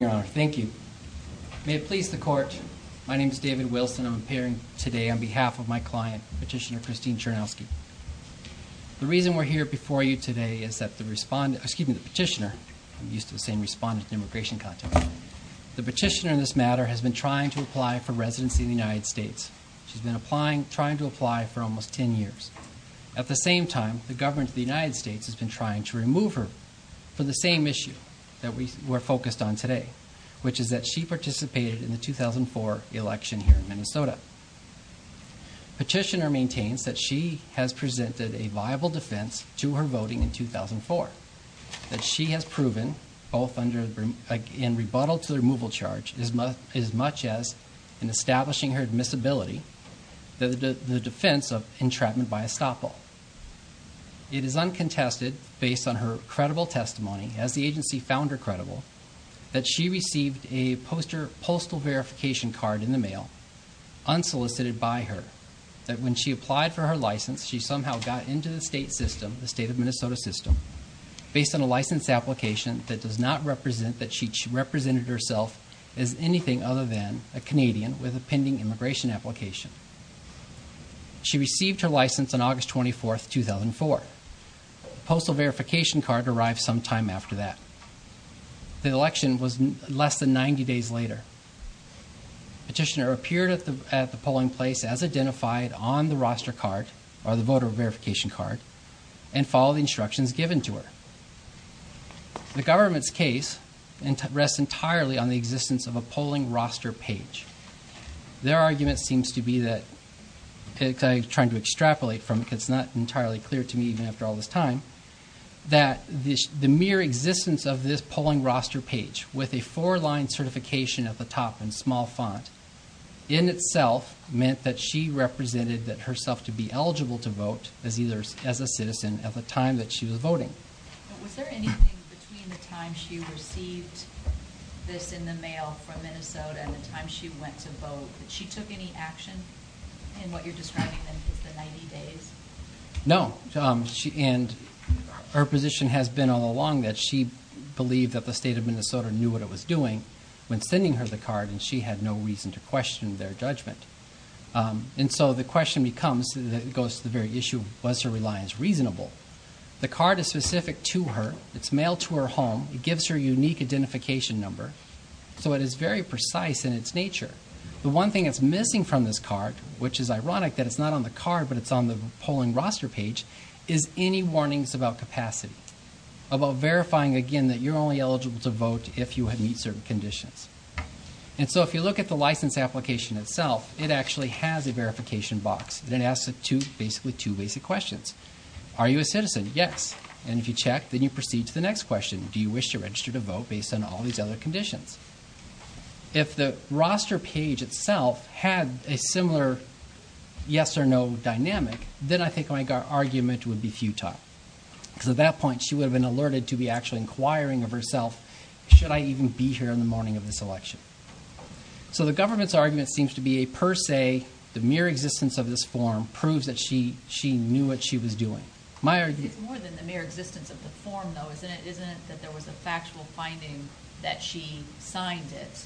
Your Honor, thank you. May it please the Court, my name is David Wilson and I'm appearing today on behalf of my client, Petitioner Christine Chernosky. The reason we're here before you today is that the respondent, excuse me, the petitioner, I'm used to saying respondent in immigration context, the petitioner in this matter has been trying to apply for residency in the United States. She's been applying, trying to apply for almost 10 years. At the same time, the government of the United States has been trying to remove her from the same issue that we're focused on today, which is that she participated in the 2004 election here in Minnesota. Petitioner maintains that she has presented a viable defense to her voting in 2004, that she has proven, both in rebuttal to the removal charge as much as in establishing her admissibility, the defense of entrapment by estoppel. It is uncontested, based on her credible testimony, as the agency found her credible, that she received a postal verification card in the mail, unsolicited by her, that when she applied for her license, she somehow got into the state system, the state of Minnesota system, based on a license application that does not represent that she represented herself as anything other than a Canadian with a pending immigration application. She received her license on August 24, 2004. The postal verification card arrived some time after that. The election was less than 90 days later. Petitioner appeared at the polling place as identified on the roster card, or the voter verification card, and followed the instructions given to her. The government's case rests entirely on the existence of a polling roster page. Their argument seems to be that, I'm trying to extrapolate from it because it's not entirely clear to me, even after all this time, that the mere existence of this polling roster page, with a four-line certification at the top in small font, in itself meant that she represented herself to be eligible to vote as a citizen at the time that she was voting. Was there anything between the time she received this in the mail from Minnesota and the time she went to vote, that she took any action in what you're describing as the 90 days? No. And her position has been all along that she believed that the state of Minnesota knew what it was doing when sending her the card, and she had no reason to question their judgment. And so the question becomes, it goes to the very issue, was her reliance reasonable? The card is specific to her. It's mailed to her home. It gives her a unique identification number. So it is very precise in its nature. The one thing that's missing from this card, which is ironic that it's not on the card but it's on the polling roster page, is any warnings about capacity, about verifying, again, that you're only eligible to vote if you meet certain conditions. And so if you look at the license application itself, it actually has a verification box. It asks basically two basic questions. Are you a citizen? Yes. And if you check, then you proceed to the next question. Do you wish to register to vote based on all these other conditions? If the roster page itself had a similar yes or no dynamic, then I think my argument would be futile. Because at that point, she would have been alerted to be actually inquiring of herself, should I even be here in the morning of this election? So the government's argument seems to be a per se, the mere existence of this form proves that she knew what she was doing. It's more than the mere existence of the form, though, isn't it? Isn't it that there was a factual finding that she signed it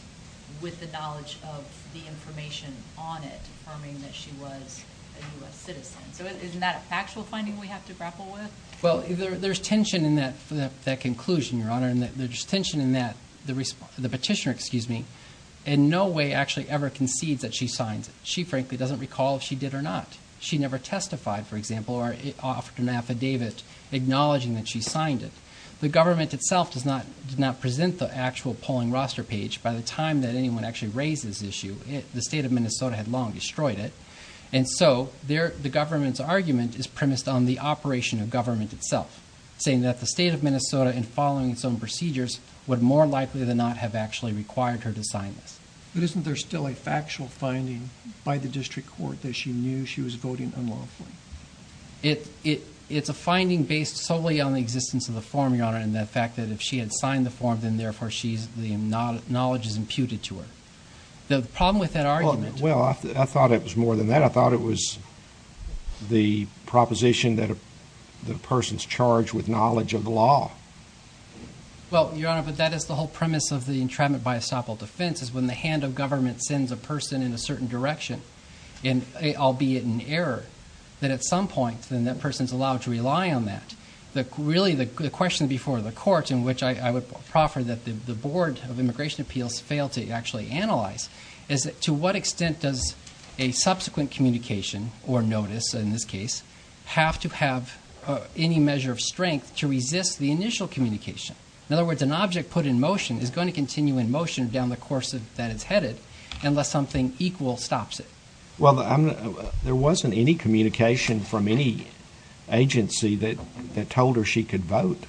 with the knowledge of the information on it confirming that she was a U.S. citizen? So isn't that a factual finding we have to grapple with? Well, there's tension in that conclusion, Your Honor, and there's tension in that the petitioner in no way actually ever concedes that she signed it. She frankly doesn't recall if she did or not. She never testified, for example, or offered an affidavit acknowledging that she signed it. The government itself did not present the actual polling roster page by the time that anyone actually raised this issue. The state of Minnesota had long destroyed it. And so the government's argument is premised on the operation of government itself, saying that the state of Minnesota, in following its own procedures, would more likely than not have actually required her to sign this. But isn't there still a factual finding by the district court that she knew she was voting unlawfully? It's a finding based solely on the existence of the form, Your Honor, and the fact that if she had signed the form, then therefore the knowledge is imputed to her. The problem with that argument. Well, I thought it was more than that. I thought it was the proposition that a person's charged with knowledge of the law. Well, Your Honor, but that is the whole premise of the entrapment by estoppel defense, is when the hand of government sends a person in a certain direction, albeit in error, that at some point then that person's allowed to rely on that. Really the question before the court, in which I would proffer that the Board of Immigration Appeals fail to actually analyze, is to what extent does a subsequent communication or notice, in this case, have to have any measure of strength to resist the initial communication? In other words, an object put in motion is going to continue in motion down the course that it's headed unless something equal stops it. Well, there wasn't any communication from any agency that told her she could vote.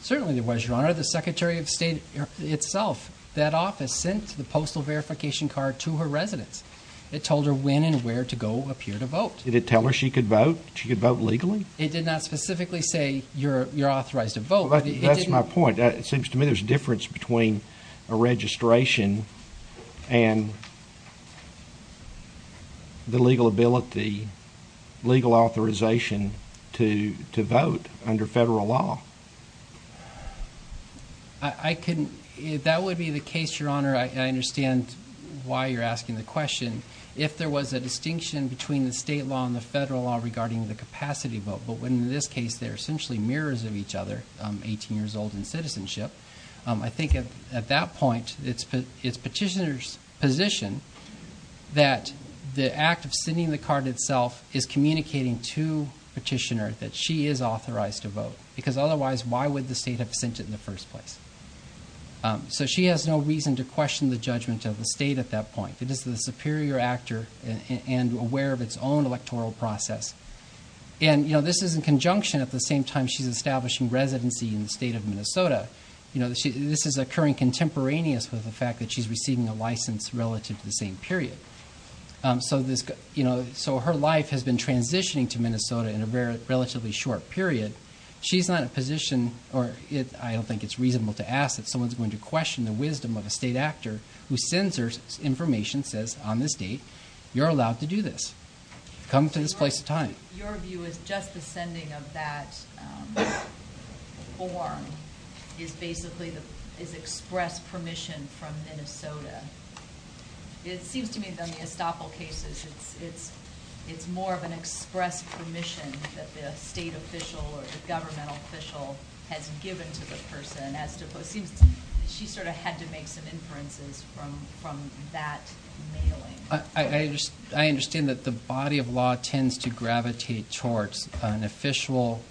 Certainly there was, Your Honor. The Secretary of State itself, that office, sent the postal verification card to her residence. It told her when and where to go appear to vote. Did it tell her she could vote, she could vote legally? It did not specifically say you're authorized to vote. Well, that's my point. It seems to me there's a difference between a registration and the legal ability, legal authorization, to vote under federal law. That would be the case, Your Honor. I understand why you're asking the question. If there was a distinction between the state law and the federal law regarding the capacity vote, but in this case they're essentially mirrors of each other, 18 years old in citizenship, I think at that point it's Petitioner's position that the act of sending the card itself is communicating to Petitioner that she is authorized to vote. Because otherwise, why would the state have sent it in the first place? So she has no reason to question the judgment of the state at that point. It is the superior actor and aware of its own electoral process. And this is in conjunction at the same time she's establishing residency in the state of Minnesota. This is occurring contemporaneous with the fact that she's receiving a license relative to the same period. So her life has been transitioning to Minnesota in a relatively short period. She's not in a position, or I don't think it's reasonable to ask that someone's going to question the wisdom of a state actor who sends her information, and says, on this date, you're allowed to do this. Come to this place at a time. Your view is just the sending of that form is basically express permission from Minnesota. It seems to me that in the Estoppel cases it's more of an express permission that the state official or the government official has given to the person. She sort of had to make some inferences from that mailing. I understand that the body of law tends to gravitate towards an official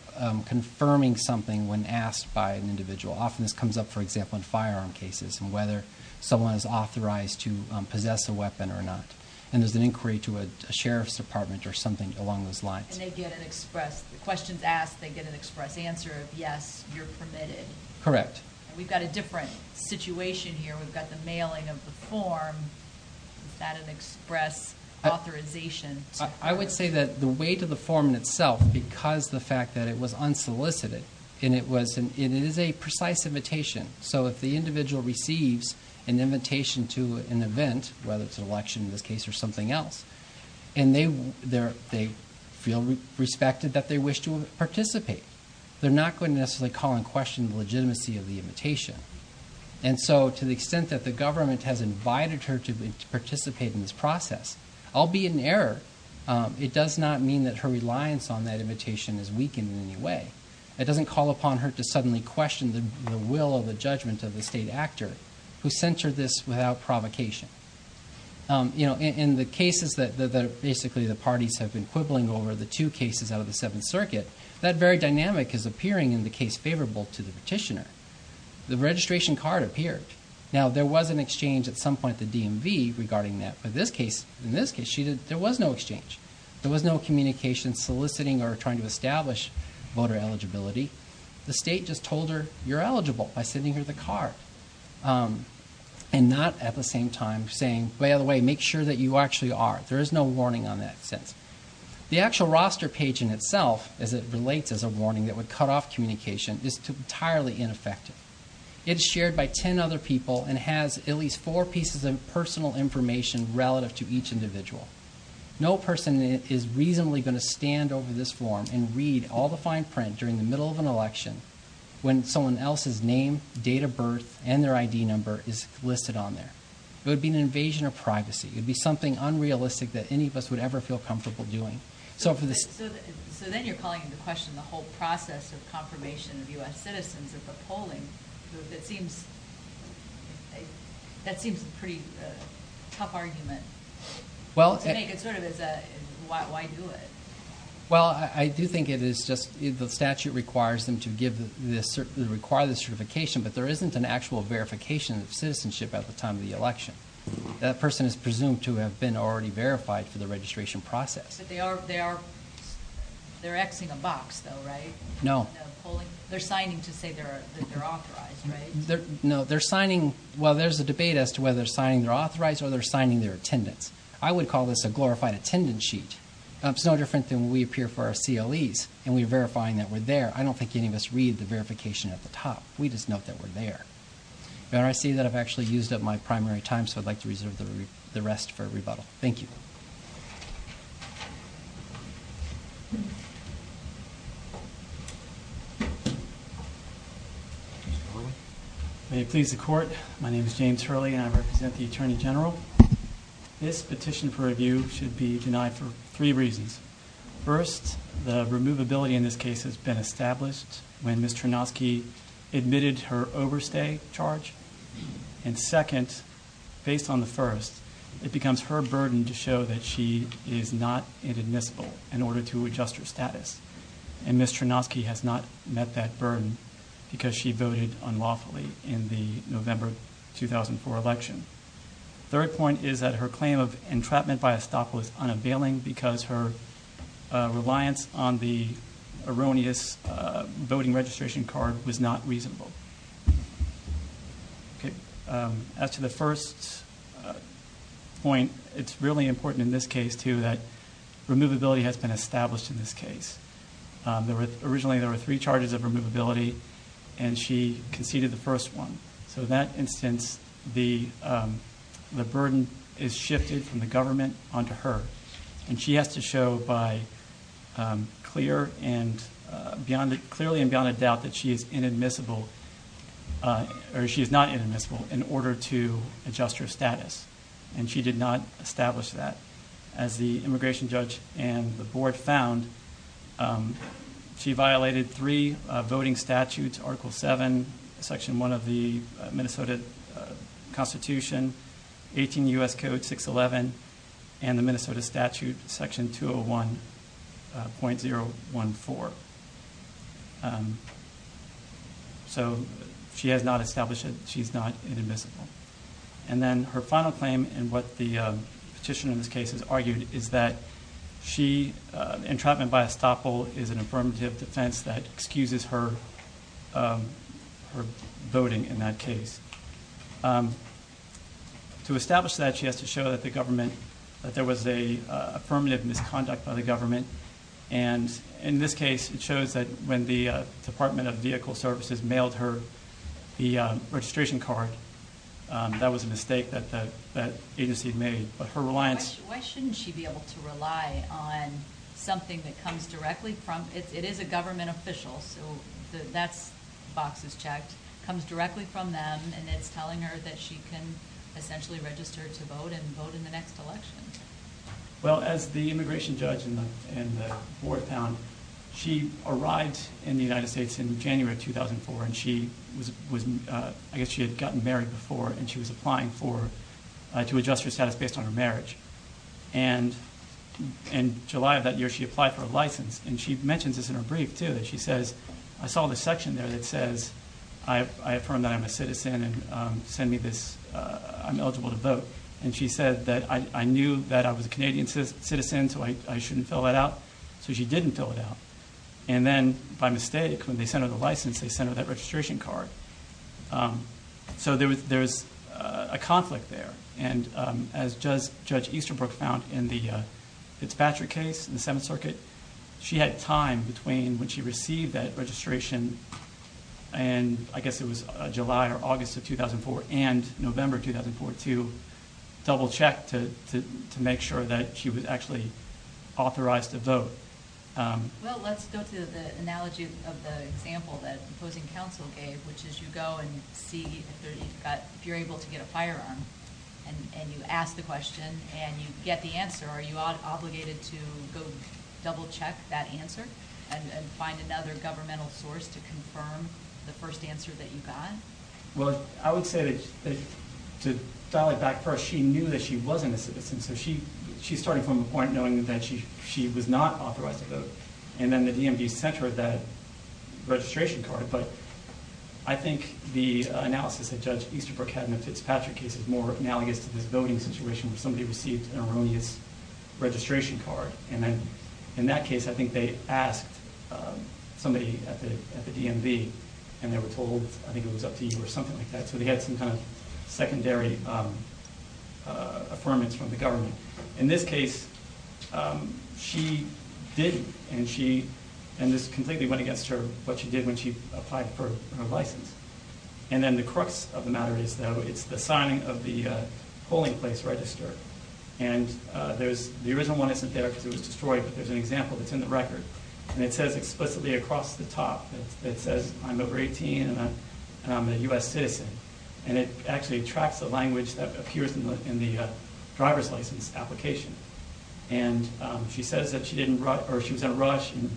confirming something when asked by an individual. Often this comes up, for example, in firearm cases and whether someone is authorized to possess a weapon or not. And there's an inquiry to a sheriff's department or something along those lines. And they get an express, the question's asked, they get an express answer of yes, you're permitted. Correct. We've got a different situation here. We've got the mailing of the form without an express authorization. I would say that the weight of the form in itself, because the fact that it was unsolicited, and it is a precise invitation, so if the individual receives an invitation to an event, whether it's an election in this case or something else, and they feel respected that they wish to participate, they're not going to necessarily call and question the legitimacy of the invitation. And so to the extent that the government has invited her to participate in this process, I'll be in error. It does not mean that her reliance on that invitation is weakened in any way. It doesn't call upon her to suddenly question the will or the judgment of the state actor who sent her this without provocation. In the cases that basically the parties have been quibbling over, the two cases out of the Seventh Circuit, that very dynamic is appearing in the case favorable to the petitioner. The registration card appeared. Now, there was an exchange at some point at the DMV regarding that, but in this case, there was no exchange. There was no communication soliciting or trying to establish voter eligibility. The state just told her, you're eligible by sending her the card, and not at the same time saying, by the way, make sure that you actually are. There is no warning on that since. The actual roster page in itself, as it relates as a warning that would cut off communication, is entirely ineffective. It is shared by ten other people and has at least four pieces of personal information relative to each individual. No person is reasonably going to stand over this form and read all the fine print during the middle of an election when someone else's name, date of birth, and their ID number is listed on there. It would be an invasion of privacy. It would be something unrealistic that any of us would ever feel comfortable doing. So then you're calling into question the whole process of confirmation of U.S. citizens at the polling. That seems a pretty tough argument. I think it sort of is a, why do it? Well, I do think it is just the statute requires them to require the certification, but there isn't an actual verification of citizenship at the time of the election. That person is presumed to have been already verified for the registration process. But they are X-ing a box, though, right? No. They're signing to say that they're authorized, right? No, they're signing. Well, there's a debate as to whether they're signing they're authorized or they're signing they're attendance. I would call this a glorified attendance sheet. It's no different than when we appear for our CLEs and we're verifying that we're there. I don't think any of us read the verification at the top. We just note that we're there. Your Honor, I see that I've actually used up my primary time, so I'd like to reserve the rest for rebuttal. Thank you. May it please the Court. My name is James Hurley, and I represent the Attorney General. This petition for review should be denied for three reasons. First, the removability in this case has been established when Ms. Chernozky admitted her overstay charge. And second, based on the first, it becomes her burden to show that she is not inadmissible in order to adjust her status. And Ms. Chernozky has not met that burden because she voted unlawfully in the November 2004 election. Third point is that her claim of entrapment by estoppel is unavailing because her reliance on the erroneous voting registration card was not reasonable. As to the first point, it's really important in this case, too, that removability has been established in this case. Originally, there were three charges of removability, and she conceded the first one. So in that instance, the burden is shifted from the government onto her. And she has to show by clear and beyond – clearly and beyond a doubt that she is inadmissible – or she is not inadmissible in order to adjust her status. And she did not establish that. As the immigration judge and the board found, she violated three voting statutes – Article 7, Section 1 of the Minnesota Constitution, 18 U.S. Code 611, and the Minnesota Statute Section 201.014. So she has not established that she is not inadmissible. And then her final claim, and what the petitioner in this case has argued, is that she – entrapment by estoppel is an affirmative defense that excuses her voting in that case. To establish that, she has to show that the government – that there was an affirmative misconduct by the government. And in this case, it shows that when the Department of Vehicle Services mailed her the registration card, that was a mistake that the agency made. But her reliance – Why shouldn't she be able to rely on something that comes directly from – it is a government official, so that box is checked – comes directly from them, and it's telling her that she can essentially register to vote and vote in the next election. Well, as the immigration judge in the board found, she arrived in the United States in January of 2004, and she was – I guess she had gotten married before, and she was applying for – to adjust her status based on her marriage. And in July of that year, she applied for a license. And she mentions this in her brief, too, that she says, I saw this section there that says, I affirm that I'm a citizen and send me this – I'm eligible to vote. And she said that I knew that I was a Canadian citizen, so I shouldn't fill that out. So she didn't fill it out. And then, by mistake, when they sent her the license, they sent her that registration card. So there's a conflict there. And as Judge Easterbrook found in the Fitzpatrick case in the Seventh Circuit, she had time between when she received that registration, and I guess it was July or August of 2004, and November 2004, to double-check to make sure that she was actually authorized to vote. Well, let's go to the analogy of the example that opposing counsel gave, which is you go and see if you're able to get a firearm. And you ask the question, and you get the answer. Are you obligated to go double-check that answer and find another governmental source to confirm the first answer that you got? Well, I would say that to dial it back first, she knew that she wasn't a citizen. So she's starting from a point knowing that she was not authorized to vote. And then the DMV sent her that registration card. But I think the analysis that Judge Easterbrook had in the Fitzpatrick case is more analogous to this voting situation where somebody received an erroneous registration card. And then in that case, I think they asked somebody at the DMV, and they were told, I think it was up to you or something like that. So they had some kind of secondary affirmance from the government. In this case, she did, and this completely went against her, what she did when she applied for her license. And then the crux of the matter is, though, it's the signing of the polling place register. And the original one isn't there because it was destroyed, but there's an example that's in the record. And it says explicitly across the top, it says I'm over 18 and I'm a U.S. citizen. And it actually tracks the language that appears in the driver's license application. And she says that she was in a rush, and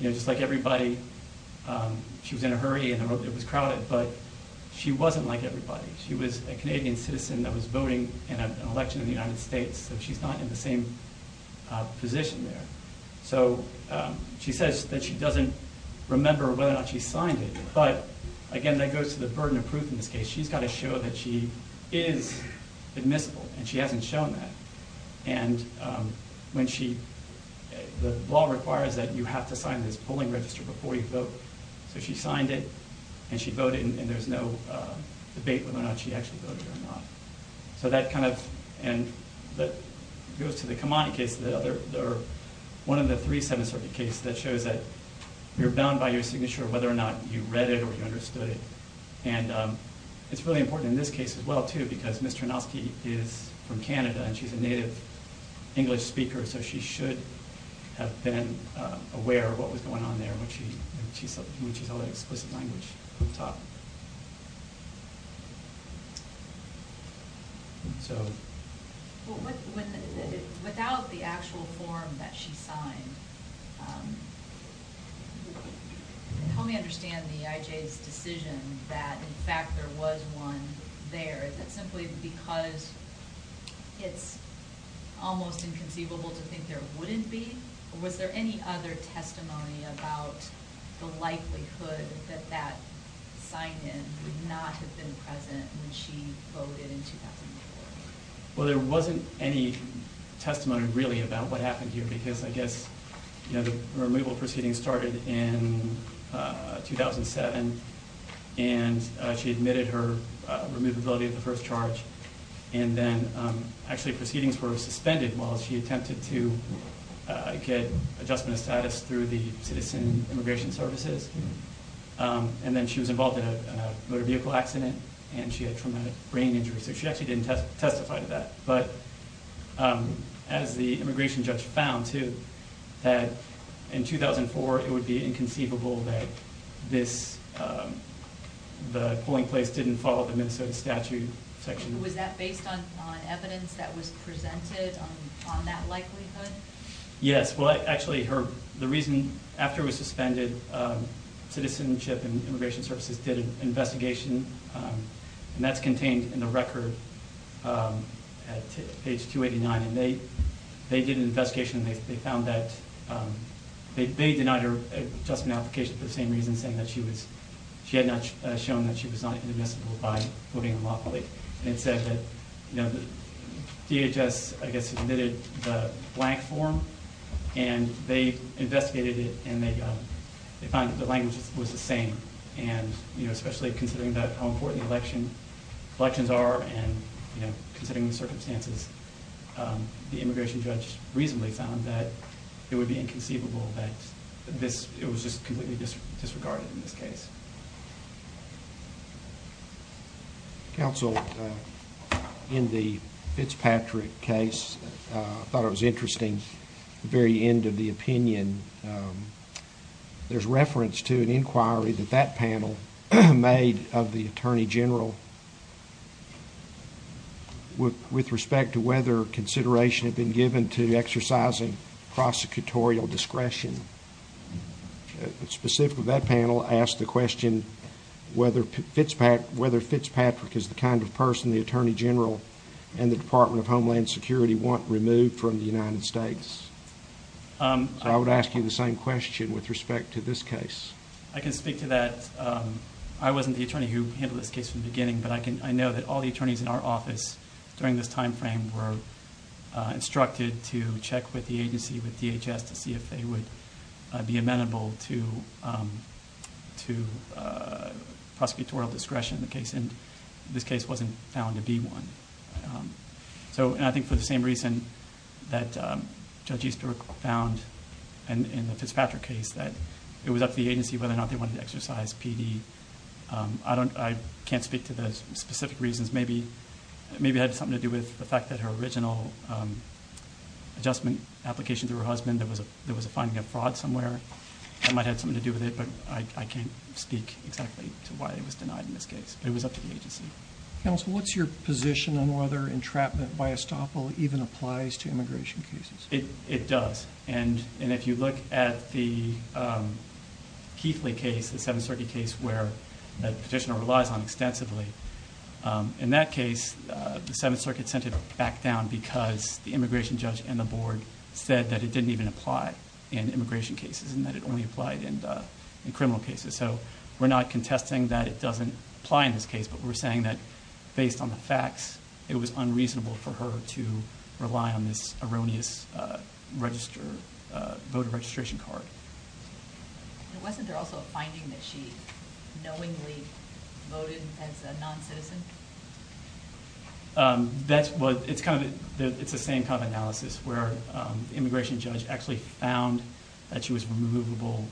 just like everybody, she was in a hurry and it was crowded, but she wasn't like everybody. She was a Canadian citizen that was voting in an election in the United States, so she's not in the same position there. So she says that she doesn't remember whether or not she signed it. But, again, that goes to the burden of proof in this case. She's got to show that she is admissible, and she hasn't shown that. And the law requires that you have to sign this polling register before you vote. So she signed it, and she voted, and there's no debate whether or not she actually voted or not. So that kind of goes to the Kamani case, one of the three Seventh Circuit cases that shows that you're bound by your signature whether or not you read it or you understood it. And it's really important in this case as well, too, because Ms. Trenovsky is from Canada, and she's a native English speaker, so she should have been aware of what was going on there when she saw that explicit language on top. Without the actual form that she signed, help me understand the IJ's decision that, in fact, there was one there. Is that simply because it's almost inconceivable to think there wouldn't be? Or was there any other testimony about the likelihood that that sign-in would not have been present when she voted in 2004? Well, there wasn't any testimony, really, about what happened here, because I guess the removal proceeding started in 2007, and she admitted her removability of the first charge. And then, actually, proceedings were suspended while she attempted to get adjustment of status through the Citizen Immigration Services. And then she was involved in a motor vehicle accident, and she had traumatic brain injury. So she actually didn't testify to that. But, as the immigration judge found, too, that in 2004 it would be inconceivable that the polling place didn't follow the Minnesota statute section. Was that based on evidence that was presented on that likelihood? Yes. Well, actually, the reason after it was suspended, Citizenship and Immigration Services did an investigation, and that's contained in the record at page 289. And they did an investigation, and they found that they denied her adjustment application for the same reason, saying that she had not shown that she was not inadmissible by voting her law public. And it said that DHS, I guess, admitted the blank form, and they investigated it, and they found that the language was the same. And, you know, especially considering how important the elections are and, you know, considering the circumstances, the immigration judge reasonably found that it would be inconceivable that it was just completely disregarded in this case. Counsel, in the Fitzpatrick case, I thought it was interesting, the very end of the opinion, there's reference to an inquiry that that panel made of the Attorney General with respect to whether consideration had been given to exercising prosecutorial discretion. Specifically, that panel asked the question whether Fitzpatrick is the kind of person the Attorney General and the Department of Homeland Security want removed from the United States. So I would ask you the same question with respect to this case. I can speak to that. I wasn't the attorney who handled this case from the beginning, but I know that all the attorneys in our office during this time frame were instructed to check with the agency, with DHS, to see if they would be amenable to prosecutorial discretion in the case, and this case wasn't found to be one. So, and I think for the same reason that Judge Easter found in the Fitzpatrick case, that it was up to the agency whether or not they wanted to exercise PD. I can't speak to the specific reasons. Maybe it had something to do with the fact that her original adjustment application through her husband, there was a finding of fraud somewhere that might have had something to do with it, but I can't speak exactly to why it was denied in this case. But it was up to the agency. Counsel, what's your position on whether entrapment by estoppel even applies to immigration cases? It does. And if you look at the Keithley case, the Seventh Circuit case where the petitioner relies on extensively, in that case the Seventh Circuit sent it back down because the immigration judge and the board said that it didn't even apply in immigration cases and that it only applied in criminal cases. So we're not contesting that it doesn't apply in this case, but we're saying that based on the facts it was unreasonable for her to rely on this erroneous voter registration card. Wasn't there also a finding that she knowingly voted as a non-citizen? It's the same kind of analysis where the immigration judge actually found that she was removable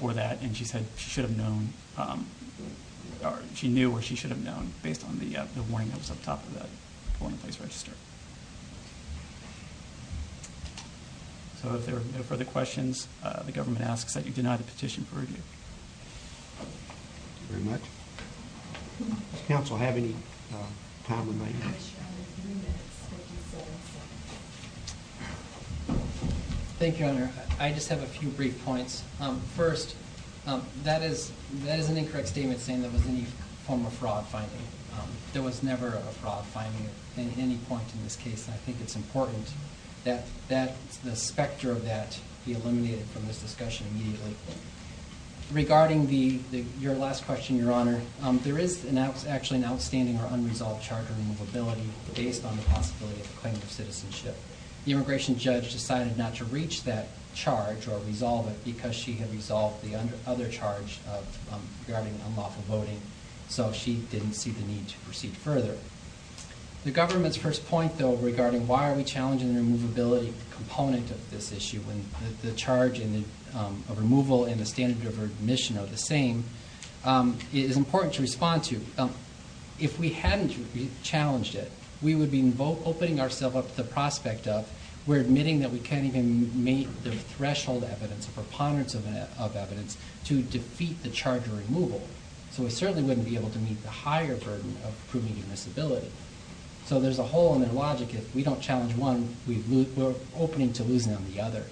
for that and she knew where she should have known based on the warning that was on top of that voting place register. So if there are no further questions, the government asks that you deny the petition for review. Thank you very much. Counsel, have any time we might need? Thank you, Your Honor. I just have a few brief points. First, that is an incorrect statement saying there was any form of fraud finding. There was never a fraud finding at any point in this case. I think it's important that the specter of that be eliminated from this discussion immediately. Regarding your last question, Your Honor, there is actually an outstanding or unresolved charge of removability based on the possibility of a claim of citizenship. The immigration judge decided not to reach that charge or resolve it because she had resolved the other charge regarding unlawful voting, so she didn't see the need to proceed further. The government's first point, though, regarding why are we challenging the removability component of this issue when the charge of removal and the standard of admission are the same is important to respond to. If we hadn't challenged it, we would be opening ourselves up to the prospect of we're admitting that we can't even meet the threshold evidence, the preponderance of evidence, to defeat the charge of removal. So we certainly wouldn't be able to meet the higher burden of proving a disability. So there's a hole in their logic. If we don't challenge one, we're opening to losing on the other.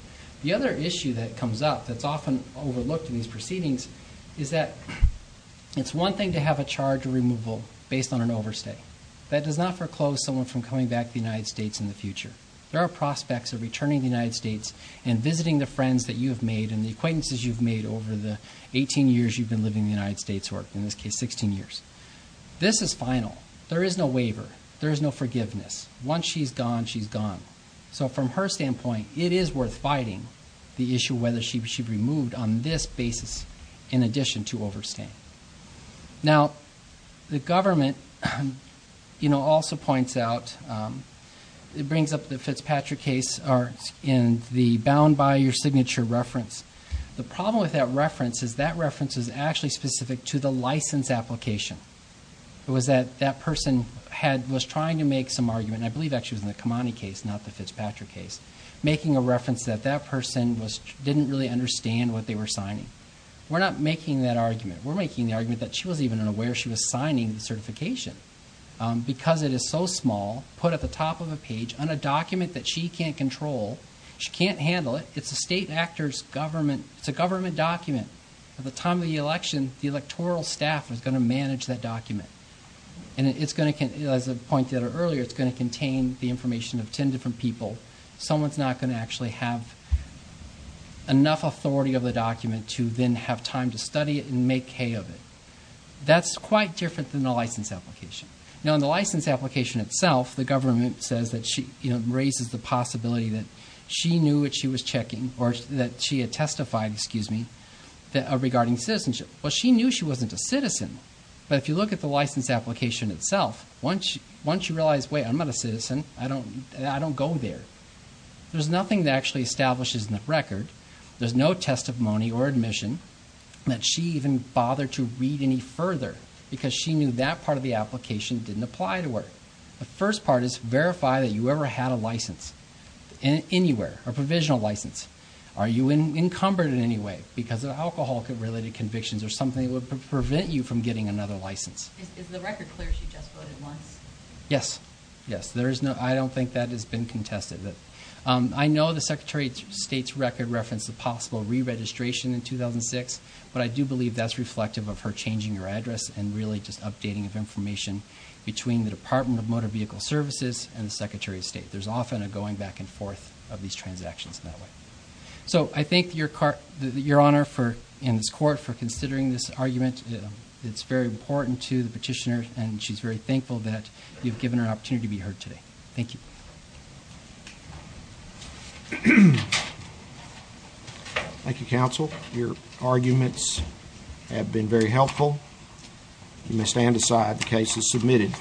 The other issue that comes up that's often overlooked in these proceedings is that it's one thing to have a charge of removal based on an overstay. That does not foreclose someone from coming back to the United States in the future. There are prospects of returning to the United States and visiting the friends that you have made and the acquaintances you've made over the 18 years you've been living in the United States, or in this case, 16 years. This is final. There is no waiver. There is no forgiveness. Once she's gone, she's gone. So from her standpoint, it is worth fighting the issue whether she'd be removed on this basis in addition to overstay. Now, the government, you know, also points out, it brings up the Fitzpatrick case in the bound by your signature reference. The problem with that reference is that reference is actually specific to the license application. It was that that person was trying to make some argument, and I believe actually it was in the Kamani case, not the Fitzpatrick case, making a reference that that person didn't really understand what they were signing. We're not making that argument. We're making the argument that she wasn't even aware she was signing the certification because it is so small, put at the top of a page on a document that she can't control. She can't handle it. It's a state actor's government. It's a government document. At the time of the election, the electoral staff is going to manage that document. And as I pointed out earlier, it's going to contain the information of 10 different people. Someone's not going to actually have enough authority of the document to then have time to study it and make hay of it. That's quite different than the license application. Now, in the license application itself, the government says that it raises the possibility that she knew what she was checking or that she had testified regarding citizenship. Well, she knew she wasn't a citizen. But if you look at the license application itself, once you realize, wait, I'm not a citizen, I don't go there, there's nothing that actually establishes in the record, there's no testimony or admission that she even bothered to read any further because she knew that part of the application didn't apply to her. The first part is verify that you ever had a license anywhere, a provisional license. Are you encumbered in any way because of alcohol-related convictions or something that would prevent you from getting another license? Is the record clear she just voted once? Yes, yes. I don't think that has been contested. I know the Secretary of State's record referenced a possible re-registration in 2006, but I do believe that's reflective of her changing her address and really just updating of information between the Department of Motor Vehicle Services and the Secretary of State. There's often a going back and forth of these transactions in that way. So I thank Your Honor and this court for considering this argument. It's very important to the petitioner, and she's very thankful that you've given her an opportunity to be heard today. Thank you. Thank you, counsel. Your arguments have been very helpful. You may stand aside. The case is submitted.